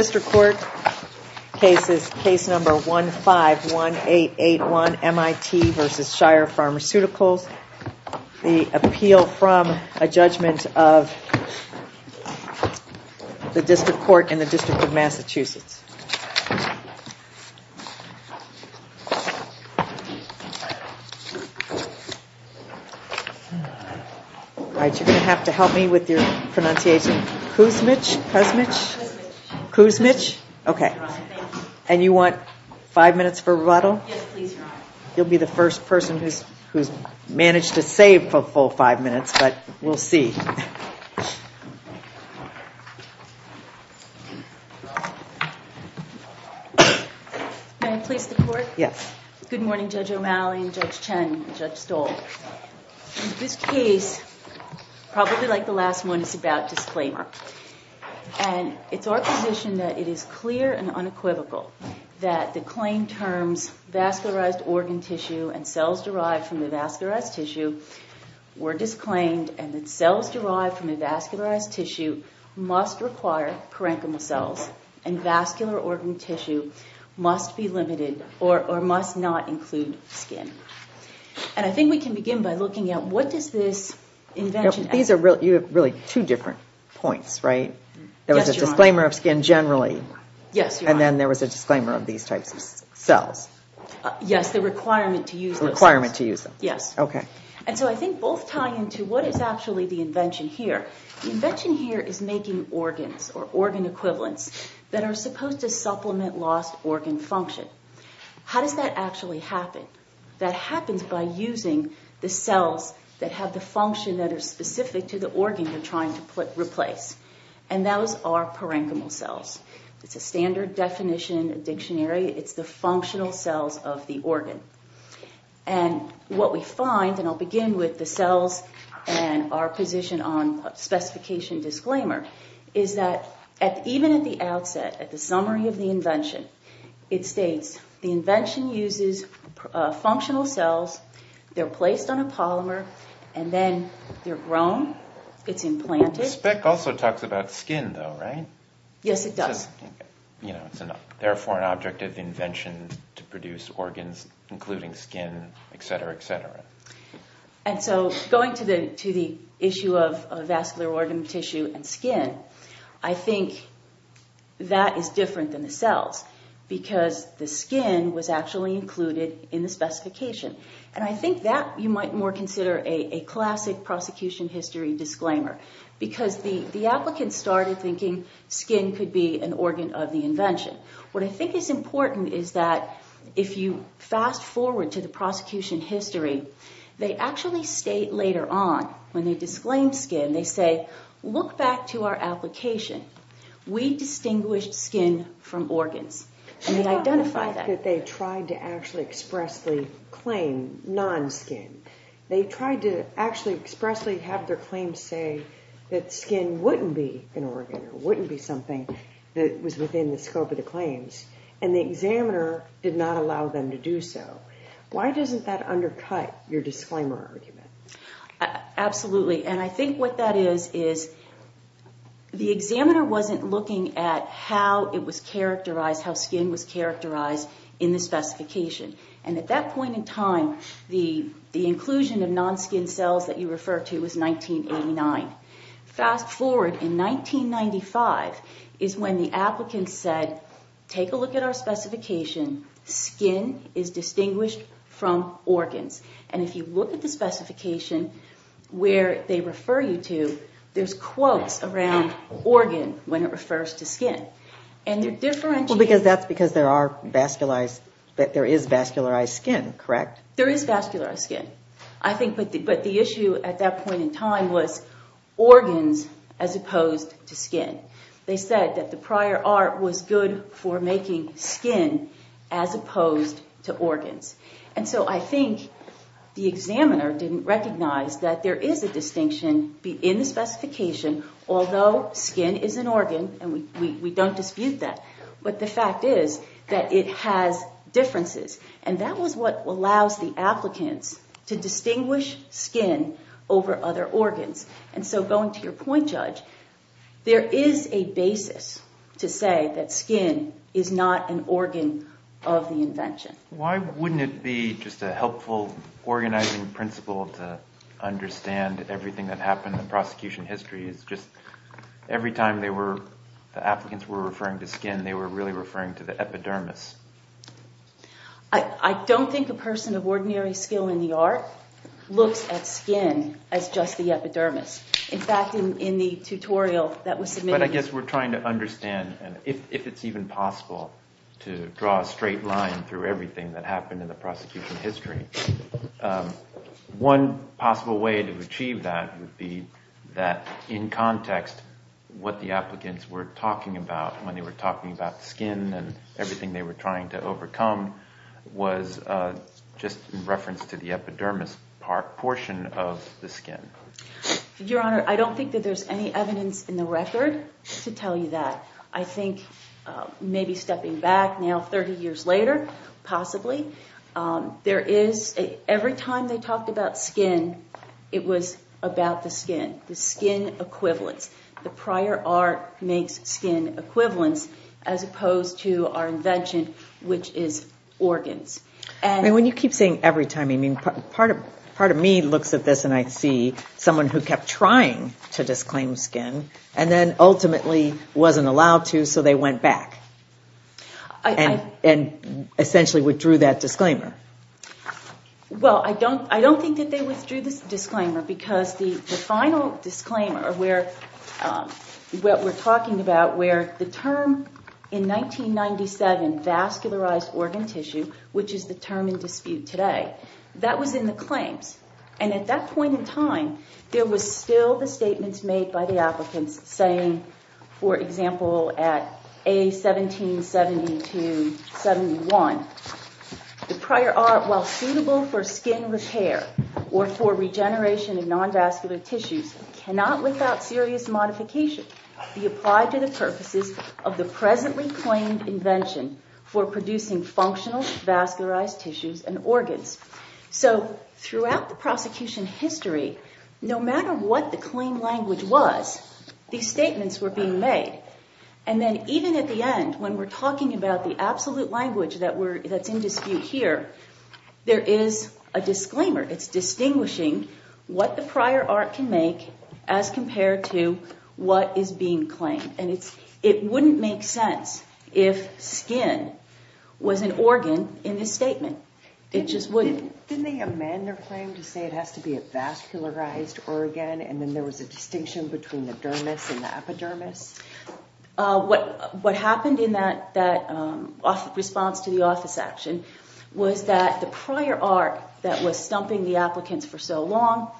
Mr. Court, case number 151881, MIT v. Shire Pharmaceuticals, the appeal from a judgment of the District Court in the District of Massachusetts. All right, you're going to have to help me with your pronunciation. Kuzmich? Okay. And you want five minutes for rebuttal? Yes, please, Your Honor. You'll be the first person who's managed to save a full five minutes, but we'll see. May I please report? Yes. Good morning, Judge O'Malley and Judge Chen and Judge Stoll. This case, probably like the last one, is about disclaimer. And it's our position that it is clear and unequivocal that the claim terms vascularized organ tissue and cells derived from the vascularized tissue were disclaimed, and that cells derived from the vascularized tissue must require parenchymal cells and vascular organ tissue must be limited or must not include skin. And I think we can begin by looking at what does this invention... These are really two different points, right? Yes, Your Honor. There was a disclaimer of skin generally. Yes, Your Honor. And then there was a disclaimer of these types of cells. Yes, the requirement to use those cells. The requirement to use them. Yes. Okay. And so I think both tie into what is actually the invention here. The invention here is making organs or organ equivalents that are supposed to supplement lost organ function. How does that actually happen? That happens by using the cells that have the function that are specific to the organ you're trying to replace, and those are parenchymal cells. It's a standard definition, a dictionary. It's the functional cells of the organ. And what we find, and I'll begin with the cells and our position on specification disclaimer, is that even at the outset, at the summary of the invention, it states the invention uses functional cells. They're placed on a polymer, and then they're grown. It's implanted. The spec also talks about skin, though, right? Yes, it does. It says, you know, it's therefore an object of invention to produce organs, including skin, et cetera, et cetera. And so going to the issue of vascular organ tissue and skin, I think that is different than the cells because the skin was actually included in the specification. And I think that you might more consider a classic prosecution history disclaimer because the applicants started thinking skin could be an organ of the invention. What I think is important is that if you fast forward to the prosecution history, they actually state later on when they disclaim skin, they say, look back to our application. We distinguished skin from organs, and we identify that. How about the fact that they tried to actually expressly claim non-skin? They tried to actually expressly have their claims say that skin wouldn't be an organ or wouldn't be something that was within the scope of the claims, and the examiner did not allow them to do so. Why doesn't that undercut your disclaimer argument? Absolutely. And I think what that is is the examiner wasn't looking at how it was characterized, how skin was characterized in the specification. And at that point in time, the inclusion of non-skin cells that you refer to was 1989. Fast forward in 1995 is when the applicants said, take a look at our specification. Skin is distinguished from organs. And if you look at the specification where they refer you to, there's quotes around organ when it refers to skin. Well, that's because there is vascularized skin, correct? There is vascularized skin. But the issue at that point in time was organs as opposed to skin. They said that the prior art was good for making skin as opposed to organs. And so I think the examiner didn't recognize that there is a distinction in the specification, although skin is an organ, and we don't dispute that. But the fact is that it has differences, and that was what allows the applicants to distinguish skin over other organs. And so going to your point, Judge, there is a basis to say that skin is not an organ of the invention. Why wouldn't it be just a helpful organizing principle to understand everything that happened in prosecution history? It's just every time the applicants were referring to skin, they were really referring to the epidermis. I don't think a person of ordinary skill in the art looks at skin as just the epidermis. But I guess we're trying to understand if it's even possible to draw a straight line through everything that happened in the prosecution history. One possible way to achieve that would be that in context, what the applicants were talking about when they were talking about skin and everything they were trying to overcome was just in reference to the epidermis portion of the skin. Your Honor, I don't think that there's any evidence in the record to tell you that. I think maybe stepping back now 30 years later, possibly, there is – every time they talked about skin, it was about the skin, the skin equivalents. The prior art makes skin equivalents as opposed to our invention, which is organs. When you keep saying every time, part of me looks at this and I see someone who kept trying to disclaim skin and then ultimately wasn't allowed to, so they went back. And essentially withdrew that disclaimer. Well, I don't think that they withdrew the disclaimer because the final disclaimer where – what we're talking about where the term in 1997, vascularized organ tissue, which is the term in dispute today, that was in the claims. And at that point in time, there was still the statements made by the applicants saying, for example, at A1772-71, the prior art, while suitable for skin repair or for regeneration of non-vascular tissues, cannot without serious modification be applied to the purposes of the presently claimed invention for producing functional vascularized tissues and organs. So throughout the prosecution history, no matter what the claim language was, these statements were being made. And then even at the end, when we're talking about the absolute language that's in dispute here, there is a disclaimer. It's distinguishing what the prior art can make as compared to what is being claimed. And it wouldn't make sense if skin was an organ in this statement. It just wouldn't. Didn't they amend their claim to say it has to be a vascularized organ and then there was a distinction between the dermis and the epidermis? What happened in that response to the office action was that the prior art that was stumping the applicants for so long,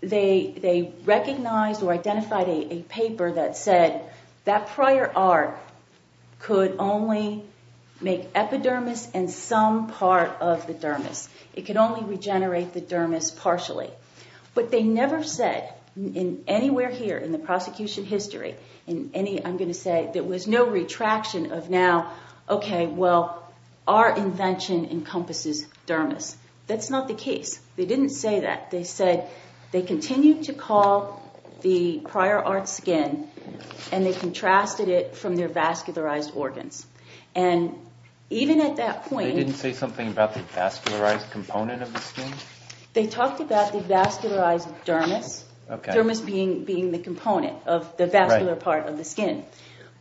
they recognized or identified a paper that said that prior art could only make epidermis and some part of the dermis. It could only regenerate the dermis partially. But they never said anywhere here in the prosecution history, I'm going to say, there was no retraction of now, okay, well, our invention encompasses dermis. That's not the case. They didn't say that. They said they continued to call the prior art skin and they contrasted it from their vascularized organs. And even at that point… They didn't say something about the vascularized component of the skin? They talked about the vascularized dermis, dermis being the component of the vascular part of the skin.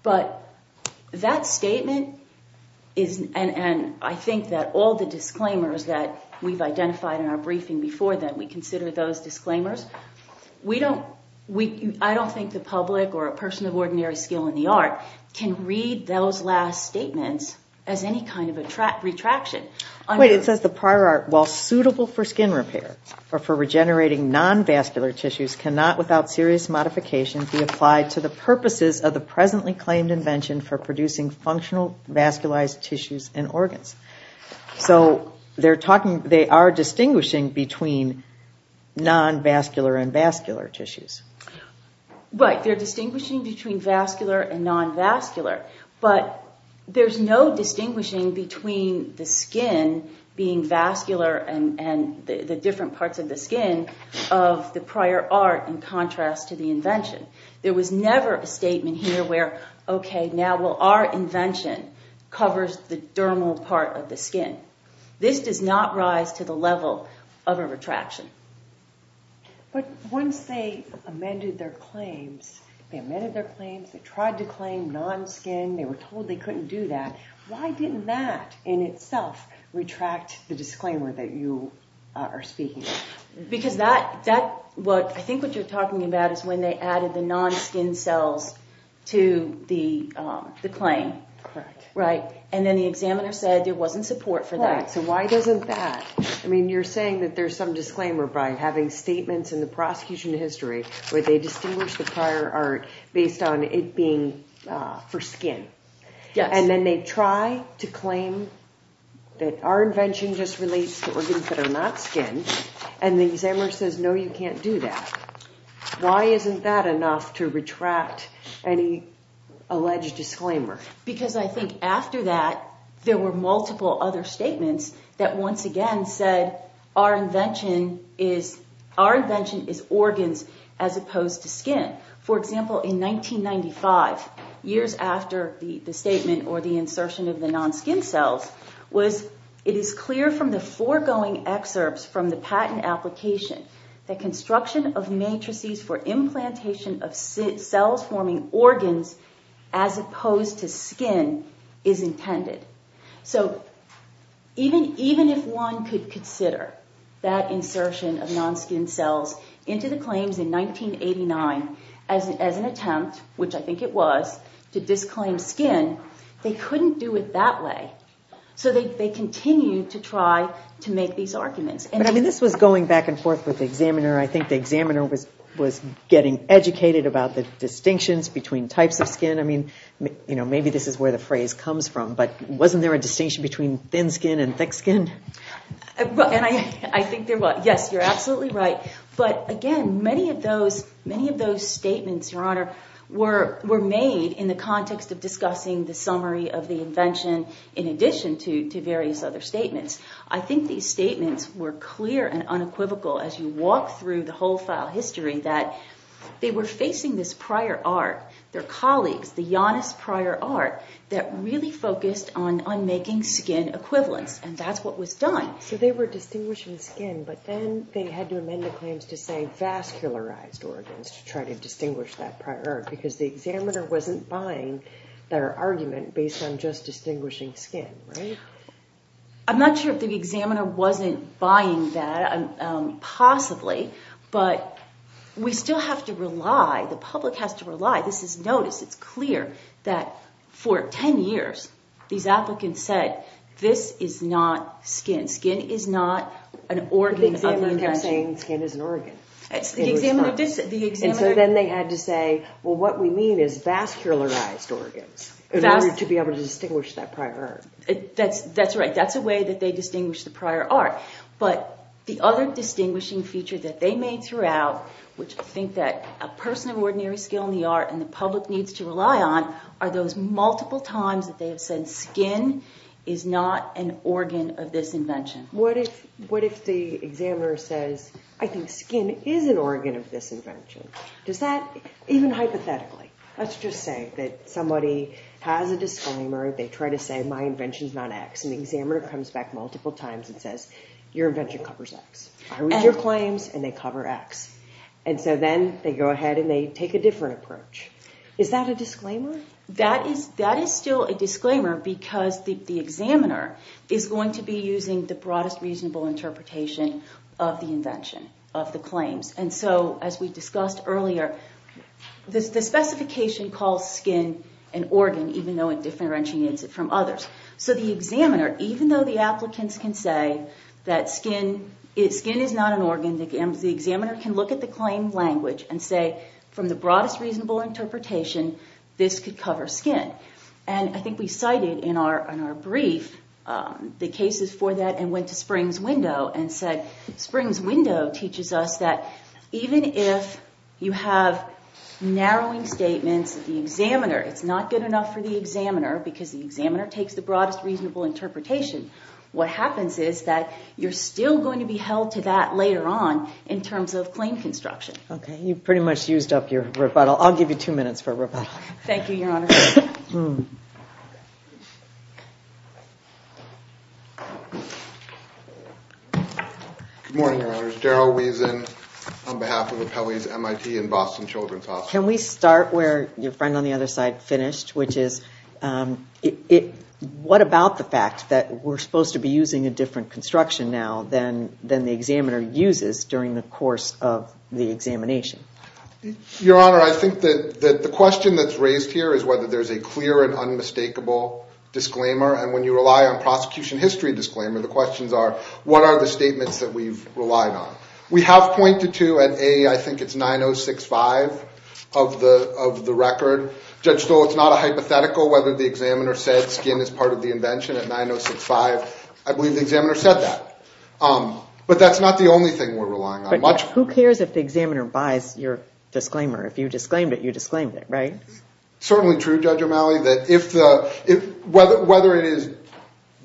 But that statement and I think that all the disclaimers that we've identified in our briefing before that we consider those disclaimers, I don't think the public or a person of ordinary skill in the art can read those last statements as any kind of retraction. Wait, it says the prior art, while suitable for skin repair or for regenerating non-vascular tissues cannot without serious modification be applied to the purposes of the presently claimed invention for producing functional vascularized tissues and organs. So they are distinguishing between non-vascular and vascular tissues. Right, they're distinguishing between vascular and non-vascular. But there's no distinguishing between the skin being vascular and the different parts of the skin of the prior art in contrast to the invention. There was never a statement here where, okay, now our invention covers the dermal part of the skin. This does not rise to the level of a retraction. But once they amended their claims, they amended their claims, they tried to claim non-skin, they were told they couldn't do that. Why didn't that in itself retract the disclaimer that you are speaking of? Because that, I think what you're talking about is when they added the non-skin cells to the claim. Correct. Right, and then the examiner said there wasn't support for that. Right, so why doesn't that? I mean, you're saying that there's some disclaimer by having statements in the prosecution history where they distinguish the prior art based on it being for skin. Yes. And then they try to claim that our invention just relates to organs that are not skin, and the examiner says, no, you can't do that. Why isn't that enough to retract any alleged disclaimer? Because I think after that, there were multiple other statements that once again said our invention is organs as opposed to skin. For example, in 1995, years after the statement or the insertion of the non-skin cells, was it is clear from the foregoing excerpts from the patent application that construction of matrices for implantation of cells forming organs as opposed to skin is intended. So even if one could consider that insertion of non-skin cells into the claims in 1989 as an attempt, which I think it was, to disclaim skin, they couldn't do it that way. So they continued to try to make these arguments. But I mean, this was going back and forth with the examiner. I think the examiner was getting educated about the distinctions between types of skin. I mean, maybe this is where the phrase comes from, but wasn't there a distinction between thin skin and thick skin? And I think there was. Yes, you're absolutely right. But again, many of those statements, Your Honor, were made in the context of discussing the summary of the invention in addition to various other statements. I think these statements were clear and unequivocal as you walk through the whole file history that they were facing this prior art, their colleagues, the Janus prior art that really focused on making skin equivalents, and that's what was done. So they were distinguishing skin, but then they had to amend the claims to say vascularized organs to try to distinguish that prior art because the examiner wasn't buying their argument based on just distinguishing skin, right? I'm not sure if the examiner wasn't buying that, possibly, but we still have to rely. The public has to rely. This is noticed. It's clear that for 10 years these applicants said this is not skin. Skin is not an organ of invention. The examiner kept saying skin is an organ. The examiner did say that. And so then they had to say, well, what we mean is vascularized organs in order to be able to distinguish that prior art. That's right. That's a way that they distinguish the prior art. But the other distinguishing feature that they made throughout, which I think that a person of ordinary skill in the art and the public needs to rely on, are those multiple times that they have said skin is not an organ of this invention. What if the examiner says, I think skin is an organ of this invention? Even hypothetically, let's just say that somebody has a disclaimer. They try to say my invention is not X. And the examiner comes back multiple times and says, your invention covers X. I read your claims and they cover X. And so then they go ahead and they take a different approach. Is that a disclaimer? That is still a disclaimer because the examiner is going to be using the broadest reasonable interpretation of the invention, of the claims. And so as we discussed earlier, the specification calls skin an organ, even though it differentiates it from others. So the examiner, even though the applicants can say that skin is not an organ, the examiner can look at the claim language and say, from the broadest reasonable interpretation, this could cover skin. And I think we cited in our brief the cases for that and went to Springs Window and said, Springs Window teaches us that even if you have narrowing statements, the examiner, it's not good enough for the examiner because the examiner takes the broadest reasonable interpretation. What happens is that you're still going to be held to that later on in terms of claim construction. Okay, you pretty much used up your rebuttal. I'll give you two minutes for a rebuttal. Thank you, Your Honor. Good morning, Your Honor. Daryl Wiesen on behalf of Appellee's MIT and Boston Children's Hospital. Can we start where your friend on the other side finished, which is what about the fact that we're supposed to be using a different construction now than the examiner uses during the course of the examination? Your Honor, I think that the question that's raised here is whether there's a clear and unmistakable disclaimer, and when you rely on prosecution history disclaimer, the questions are, what are the statements that we've relied on? We have pointed to an A, I think it's 9065 of the record. Judge Stoll, it's not a hypothetical whether the examiner said skin is part of the invention at 9065. I believe the examiner said that. But that's not the only thing we're relying on. Who cares if the examiner buys your disclaimer? If you disclaimed it, you disclaimed it, right? Certainly true, Judge O'Malley, that whether it is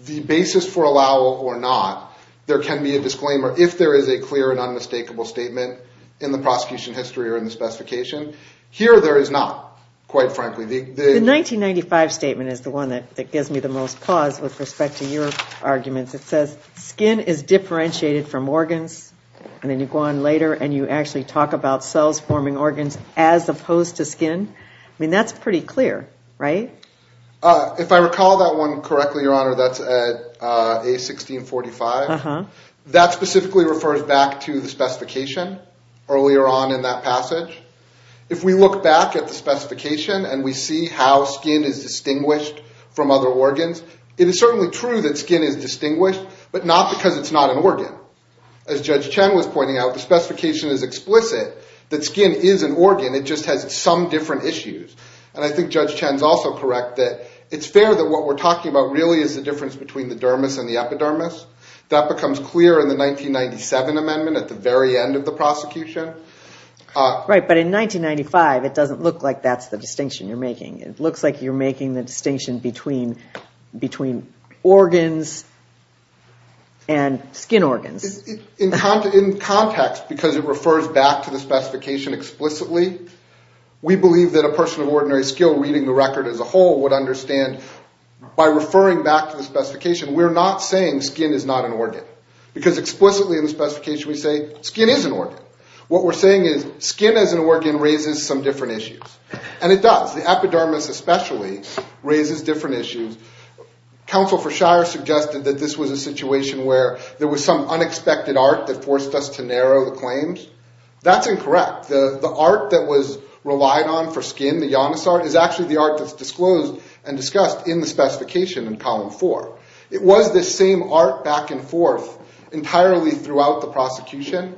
the basis for allow or not, there can be a disclaimer if there is a clear and unmistakable statement in the prosecution history or in the specification. Here there is not, quite frankly. The 1995 statement is the one that gives me the most pause with respect to your arguments. It says skin is differentiated from organs, and then you go on later and you actually talk about cells forming organs as opposed to skin. I mean, that's pretty clear, right? If I recall that one correctly, Your Honor, that's at A1645. That specifically refers back to the specification earlier on in that passage. If we look back at the specification and we see how skin is distinguished from other organs, it is certainly true that skin is distinguished, but not because it's not an organ. As Judge Chen was pointing out, the specification is explicit that skin is an organ. It just has some different issues. And I think Judge Chen is also correct that it's fair that what we're talking about really is the difference between the dermis and the epidermis. That becomes clear in the 1997 amendment at the very end of the prosecution. Right, but in 1995, it doesn't look like that's the distinction you're making. It looks like you're making the distinction between organs and skin organs. In context, because it refers back to the specification explicitly, we believe that a person of ordinary skill reading the record as a whole would understand. By referring back to the specification, we're not saying skin is not an organ, because explicitly in the specification we say skin is an organ. What we're saying is skin as an organ raises some different issues. And it does. The epidermis especially raises different issues. Counsel for Shire suggested that this was a situation where there was some unexpected art that forced us to narrow the claims. That's incorrect. The art that was relied on for skin, the Janus art, is actually the art that's disclosed and discussed in the specification in column four. It was this same art back and forth entirely throughout the prosecution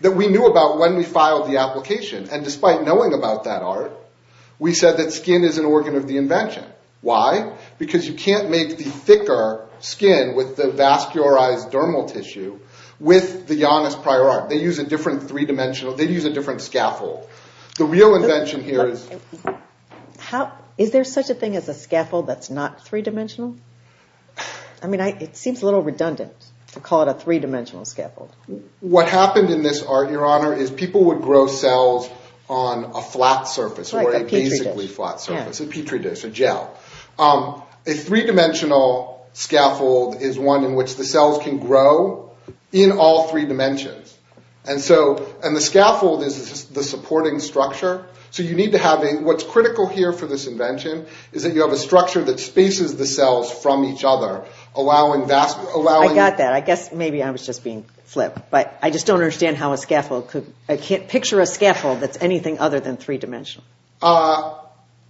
that we knew about when we filed the application. And despite knowing about that art, we said that skin is an organ of the invention. Why? Because you can't make the thicker skin with the vascularized dermal tissue with the Janus prior art. They use a different three-dimensional, they use a different scaffold. The real invention here is... Is there such a thing as a scaffold that's not three-dimensional? I mean, it seems a little redundant to call it a three-dimensional scaffold. What happened in this art, Your Honor, is people would grow cells on a flat surface or a basically flat surface, a petri dish, a gel. A three-dimensional scaffold is one in which the cells can grow in all three dimensions. And the scaffold is the supporting structure. So you need to have a... What's critical here for this invention is that you have a structure that spaces the cells from each other, allowing... I got that. I guess maybe I was just being flipped. But I just don't understand how a scaffold could... Picture a scaffold that's anything other than three-dimensional.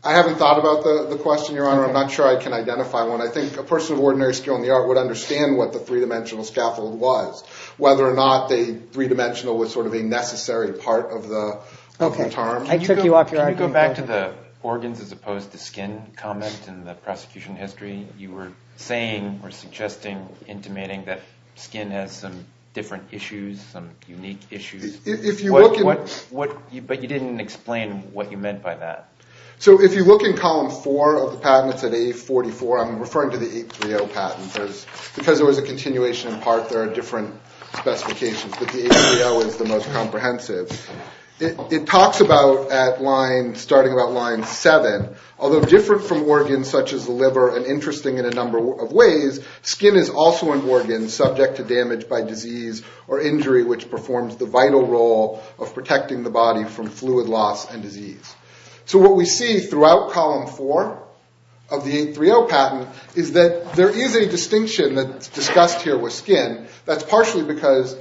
I haven't thought about the question, Your Honor. I'm not sure I can identify one. I think a person of ordinary skill in the art would understand what the three-dimensional scaffold was, whether or not the three-dimensional was sort of a necessary part of the term. I took you off your argument. Can you go back to the organs as opposed to skin comment in the prosecution history? You were saying or suggesting, intimating, that skin has some different issues, some unique issues. If you look at... But you didn't explain what you meant by that. So if you look in column four of the patent, it's at 844. I'm referring to the 830 patent because there was a continuation in part. There are different specifications, but the 830 is the most comprehensive. It talks about at line, starting about line seven, although different from organs such as the liver and interesting in a number of ways, skin is also an organ subject to damage by disease or injury, which performs the vital role of protecting the body from fluid loss and disease. So what we see throughout column four of the 830 patent is that there is a distinction that's discussed here with skin. That's partially because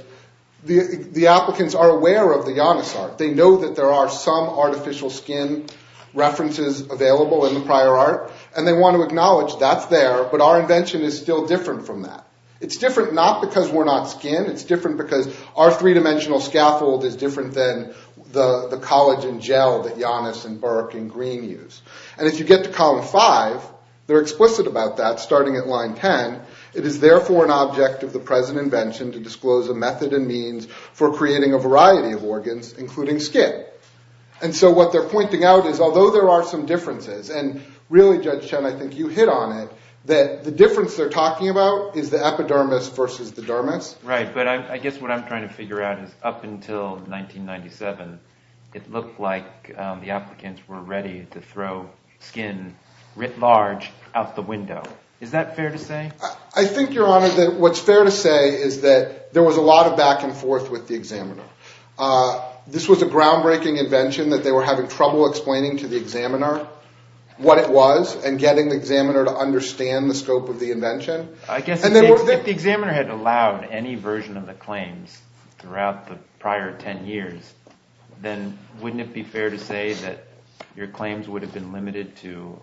the applicants are aware of the Janus art. They know that there are some artificial skin references available in the prior art, and they want to acknowledge that's there, but our invention is still different from that. It's different not because we're not skin. It's different because our three-dimensional scaffold is different than the collagen gel that Janus and Burke and Green use. And if you get to column five, they're explicit about that, starting at line ten. It is therefore an object of the present invention to disclose a method and means for creating a variety of organs, including skin. And so what they're pointing out is although there are some differences, and really, Judge Chen, I think you hit on it, that the difference they're talking about is the epidermis versus the dermis. Right, but I guess what I'm trying to figure out is up until 1997, it looked like the applicants were ready to throw skin writ large out the window. Is that fair to say? I think, Your Honor, that what's fair to say is that there was a lot of back and forth with the examiner. This was a groundbreaking invention that they were having trouble explaining to the examiner what it was and getting the examiner to understand the scope of the invention. I guess if the examiner had allowed any version of the claims throughout the prior ten years, then wouldn't it be fair to say that your claims would have been limited to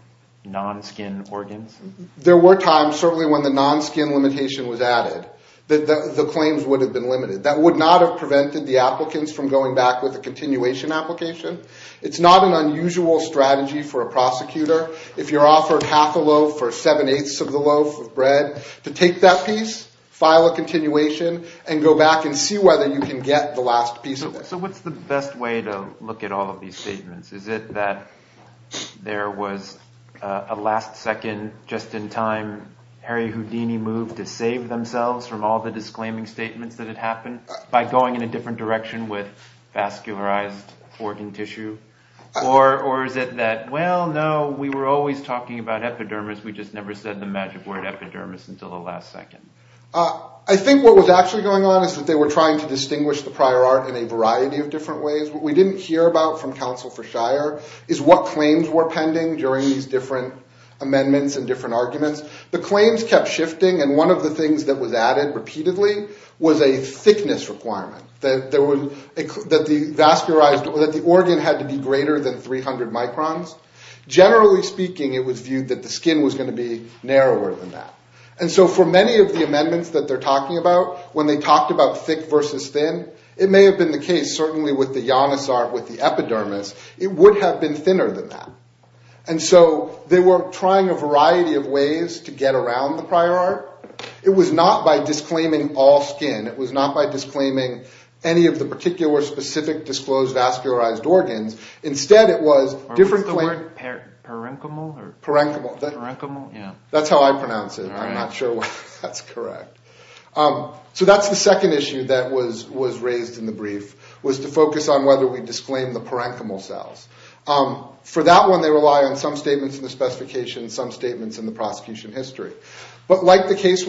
non-skin organs? There were times, certainly when the non-skin limitation was added, that the claims would have been limited. That would not have prevented the applicants from going back with a continuation application. It's not an unusual strategy for a prosecutor. If you're offered half a loaf or seven-eighths of the loaf of bread, to take that piece, file a continuation, and go back and see whether you can get the last piece of it. So what's the best way to look at all of these statements? Is it that there was a last second, just in time, Harry Houdini moved to save themselves from all the disclaiming statements that had happened by going in a different direction with vascularized organ tissue? Or is it that, well, no, we were always talking about epidermis, we just never said the magic word epidermis until the last second? I think what was actually going on is that they were trying to distinguish the prior art in a variety of different ways. What we didn't hear about from counsel for Shire is what claims were pending during these different amendments and different arguments. The claims kept shifting, and one of the things that was added repeatedly was a thickness requirement, that the organ had to be greater than 300 microns. Generally speaking, it was viewed that the skin was going to be narrower than that. And so for many of the amendments that they're talking about, when they talked about thick versus thin, it may have been the case, certainly with the Janus art, with the epidermis, it would have been thinner than that. And so they were trying a variety of ways to get around the prior art. It was not by disclaiming all skin. It was not by disclaiming any of the particular specific disclosed vascularized organs. Instead, it was different claims. That's how I pronounce it. I'm not sure why that's correct. So that's the second issue that was raised in the brief, was to focus on whether we disclaim the parenchymal cells. For that one, they rely on some statements in the specifications, some statements in the prosecution history. But like the case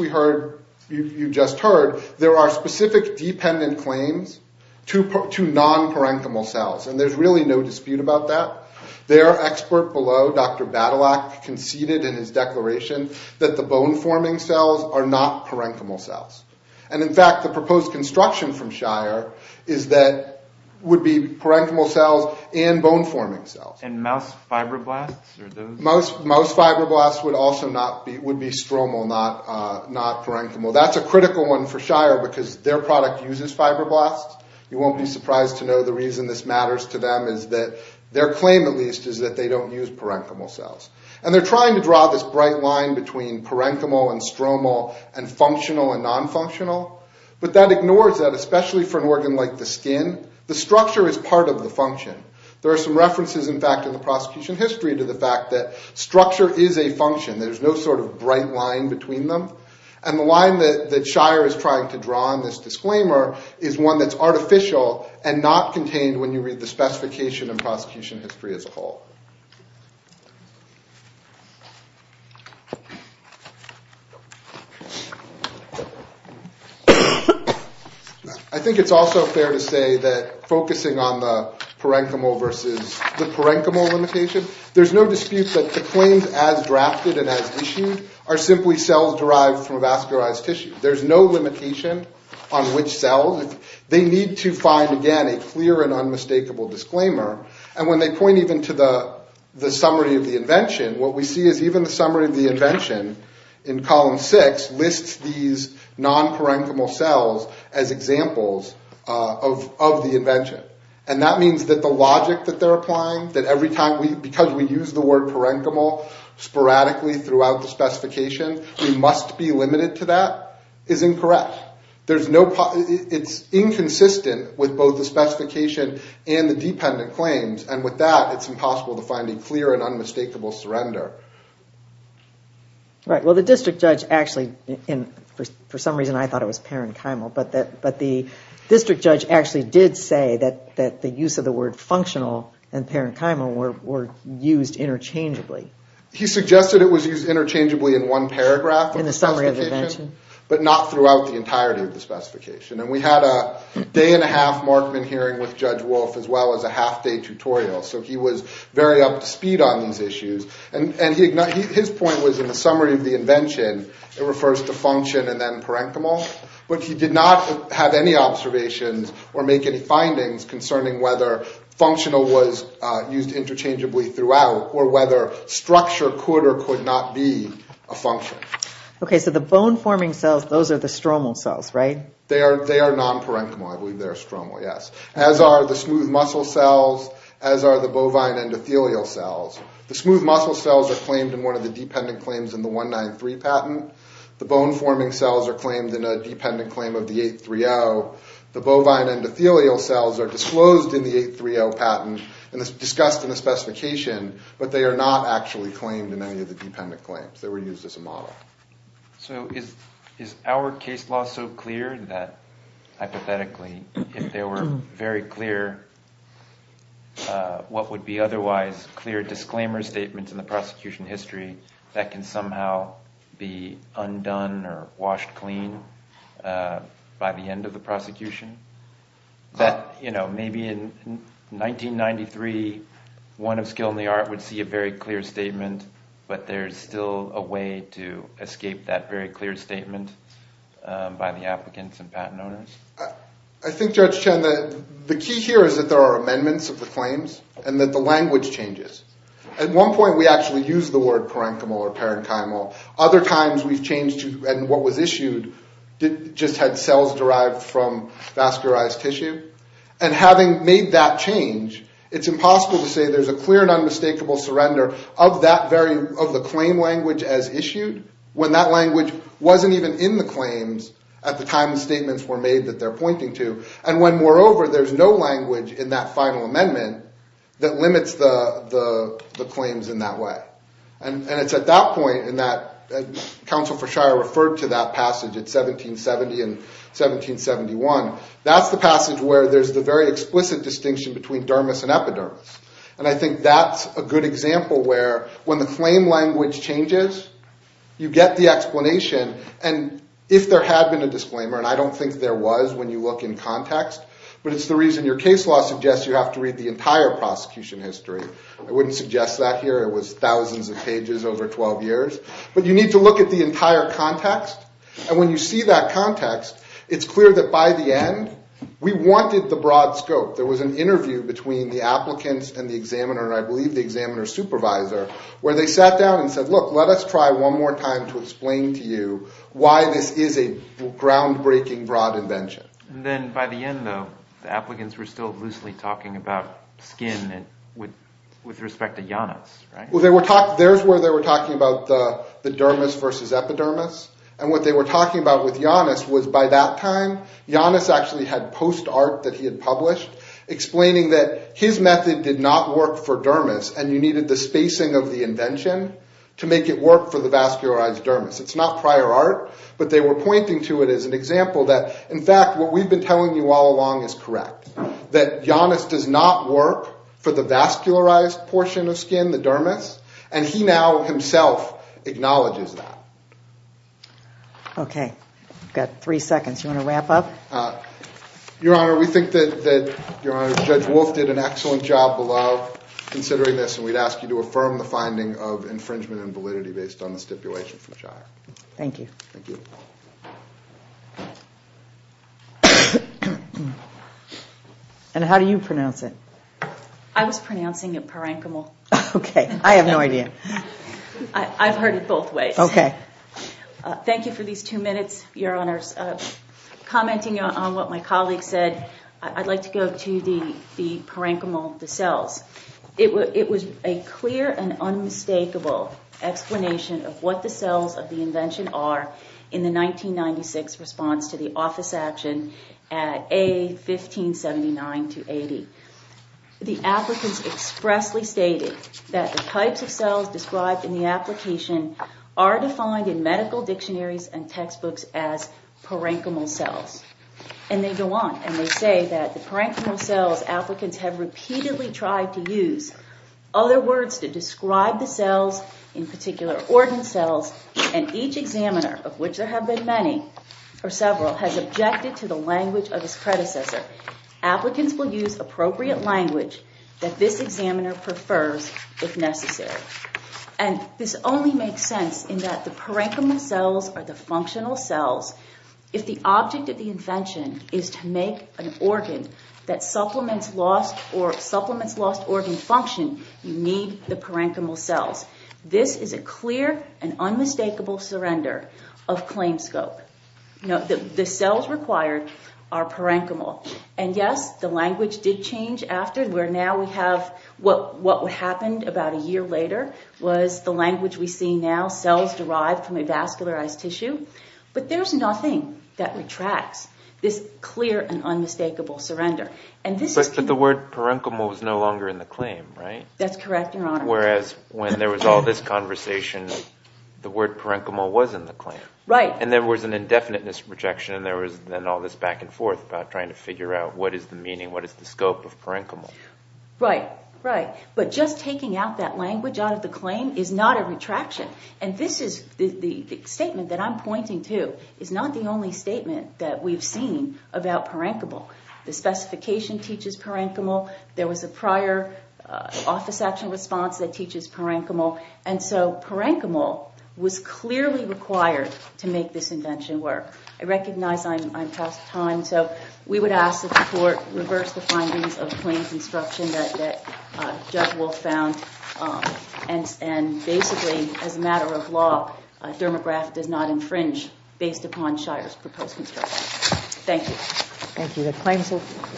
you just heard, there are specific dependent claims to non-parenchymal cells, and there's really no dispute about that. Their expert below, Dr. Badalak, conceded in his declaration that the bone-forming cells are not parenchymal cells. And in fact, the proposed construction from Shire is that it would be parenchymal cells and bone-forming cells. And mouse fibroblasts? Mouse fibroblasts would also be stromal, not parenchymal. That's a critical one for Shire because their product uses fibroblasts. You won't be surprised to know the reason this matters to them is that their claim, at least, is that they don't use parenchymal cells. And they're trying to draw this bright line between parenchymal and stromal and functional and non-functional. But that ignores that, especially for an organ like the skin, the structure is part of the function. There are some references, in fact, in the prosecution history to the fact that structure is a function. There's no sort of bright line between them. And the line that Shire is trying to draw in this disclaimer is one that's artificial and not contained when you read the specification in prosecution history as a whole. I think it's also fair to say that focusing on the parenchymal versus the parenchymal limitation, there's no dispute that the claims as drafted and as issued are simply cells derived from bone-forming cells. They're not derived from vascularized tissue. There's no limitation on which cells. They need to find, again, a clear and unmistakable disclaimer. And when they point even to the summary of the invention, what we see is even the summary of the invention in column six lists these non-parenchymal cells as examples of the invention. And that means that the logic that they're applying, that because we use the word parenchymal sporadically throughout the specification, we must be limited to that, is incorrect. It's inconsistent with both the specification and the dependent claims. And with that, it's impossible to find a clear and unmistakable surrender. Right. Well, the district judge actually, for some reason I thought it was parenchymal, but the district judge actually did say that the use of the word functional and parenchymal were used interchangeably. He suggested it was used interchangeably in one paragraph of the specification, but not throughout the entirety of the specification. And we had a day-and-a-half Markman hearing with Judge Wolf as well as a half-day tutorial, so he was very up to speed on these issues. And his point was in the summary of the invention, it refers to function and then parenchymal, but he did not have any observations or make any findings concerning whether functional was used interchangeably throughout or whether structure could or could not be a function. Okay, so the bone-forming cells, those are the stromal cells, right? They are non-parenchymal. I believe they are stromal, yes. As are the smooth muscle cells, as are the bovine endothelial cells. The smooth muscle cells are claimed in one of the dependent claims in the 193 patent. The bone-forming cells are claimed in a dependent claim of the 830. The bovine endothelial cells are disclosed in the 830 patent and discussed in the specification, but they are not actually claimed in any of the dependent claims. They were used as a model. So is our case law so clear that, hypothetically, if there were very clear what would be otherwise clear disclaimer statements in the prosecution history, that can somehow be undone or washed clean by the end of the prosecution? That, you know, maybe in 1993, one of Skill and the Art would see a very clear statement, but there's still a way to escape that very clear statement by the applicants and patent owners? I think, Judge Chen, that the key here is that there are amendments of the claims and that the language changes. At one point, we actually used the word parenchymal or parenchymal. Other times we've changed and what was issued just had cells derived from vascularized tissue. And having made that change, it's impossible to say there's a clear and unmistakable surrender of the claim language as issued when that language wasn't even in the claims at the time the statements were made that they're pointing to. And when, moreover, there's no language in that final amendment that limits the claims in that way. And it's at that point in that – Counsel for Shire referred to that passage in 1770 and 1771. That's the passage where there's the very explicit distinction between dermis and epidermis. And I think that's a good example where when the claim language changes, you get the explanation. And if there had been a disclaimer, and I don't think there was when you look in context, but it's the reason your case law suggests you have to read the entire prosecution history. I wouldn't suggest that here. It was thousands of pages over 12 years. But you need to look at the entire context. And when you see that context, it's clear that by the end, we wanted the broad scope. There was an interview between the applicants and the examiner, and I believe the examiner's supervisor, where they sat down and said, look, let us try one more time to explain to you why this is a groundbreaking, broad invention. Then by the end, though, the applicants were still loosely talking about skin with respect to Janus, right? Well, there's where they were talking about the dermis versus epidermis. And what they were talking about with Janus was by that time, Janus actually had post art that he had published explaining that his method did not work for dermis. And you needed the spacing of the invention to make it work for the vascularized dermis. It's not prior art, but they were pointing to it as an example that, in fact, what we've been telling you all along is correct, that Janus does not work for the vascularized portion of skin, the dermis. And he now himself acknowledges that. OK. We've got three seconds. You want to wrap up? Your Honor, we think that Judge Wolf did an excellent job below considering this. And we'd ask you to affirm the finding of infringement and validity based on the stipulation from Shire. Thank you. Thank you. And how do you pronounce it? I was pronouncing it Parankamol. OK. I have no idea. I've heard it both ways. OK. Thank you for these two minutes, Your Honors. Commenting on what my colleague said, I'd like to go to the Parankamol, the cells. It was a clear and unmistakable explanation of what the cells of the invention are in the 1996 response to the office action at A1579-80. The applicants expressly stated that the types of cells described in the application are defined in medical dictionaries and textbooks as Parankamol cells. And they go on. And they say that the Parankamol cells applicants have repeatedly tried to use other words to describe the cells, in particular organ cells. And each examiner, of which there have been many or several, has objected to the language of his predecessor. Applicants will use appropriate language that this examiner prefers if necessary. And this only makes sense in that the Parankamol cells are the functional cells. If the object of the invention is to make an organ that supplements lost or supplements lost organ function, you need the Parankamol cells. This is a clear and unmistakable surrender of claim scope. The cells required are Parankamol. And yes, the language did change after. What happened about a year later was the language we see now, cells derived from a vascularized tissue. But there's nothing that retracts this clear and unmistakable surrender. But the word Parankamol was no longer in the claim, right? That's correct, Your Honor. Whereas when there was all this conversation, the word Parankamol was in the claim. And there was an indefiniteness rejection, and there was then all this back and forth about trying to figure out what is the meaning, what is the scope of Parankamol. Right. But just taking out that language out of the claim is not a retraction. And this is the statement that I'm pointing to is not the only statement that we've seen about Parankamol. The specification teaches Parankamol. There was a prior office action response that teaches Parankamol. And so Parankamol was clearly required to make this invention work. I recognize I'm past time. So we would ask that the court reverse the findings of claims instruction that Judge Wolf found. And basically, as a matter of law, Dermagraph does not infringe based upon Shire's proposed instruction. Thank you. Thank you.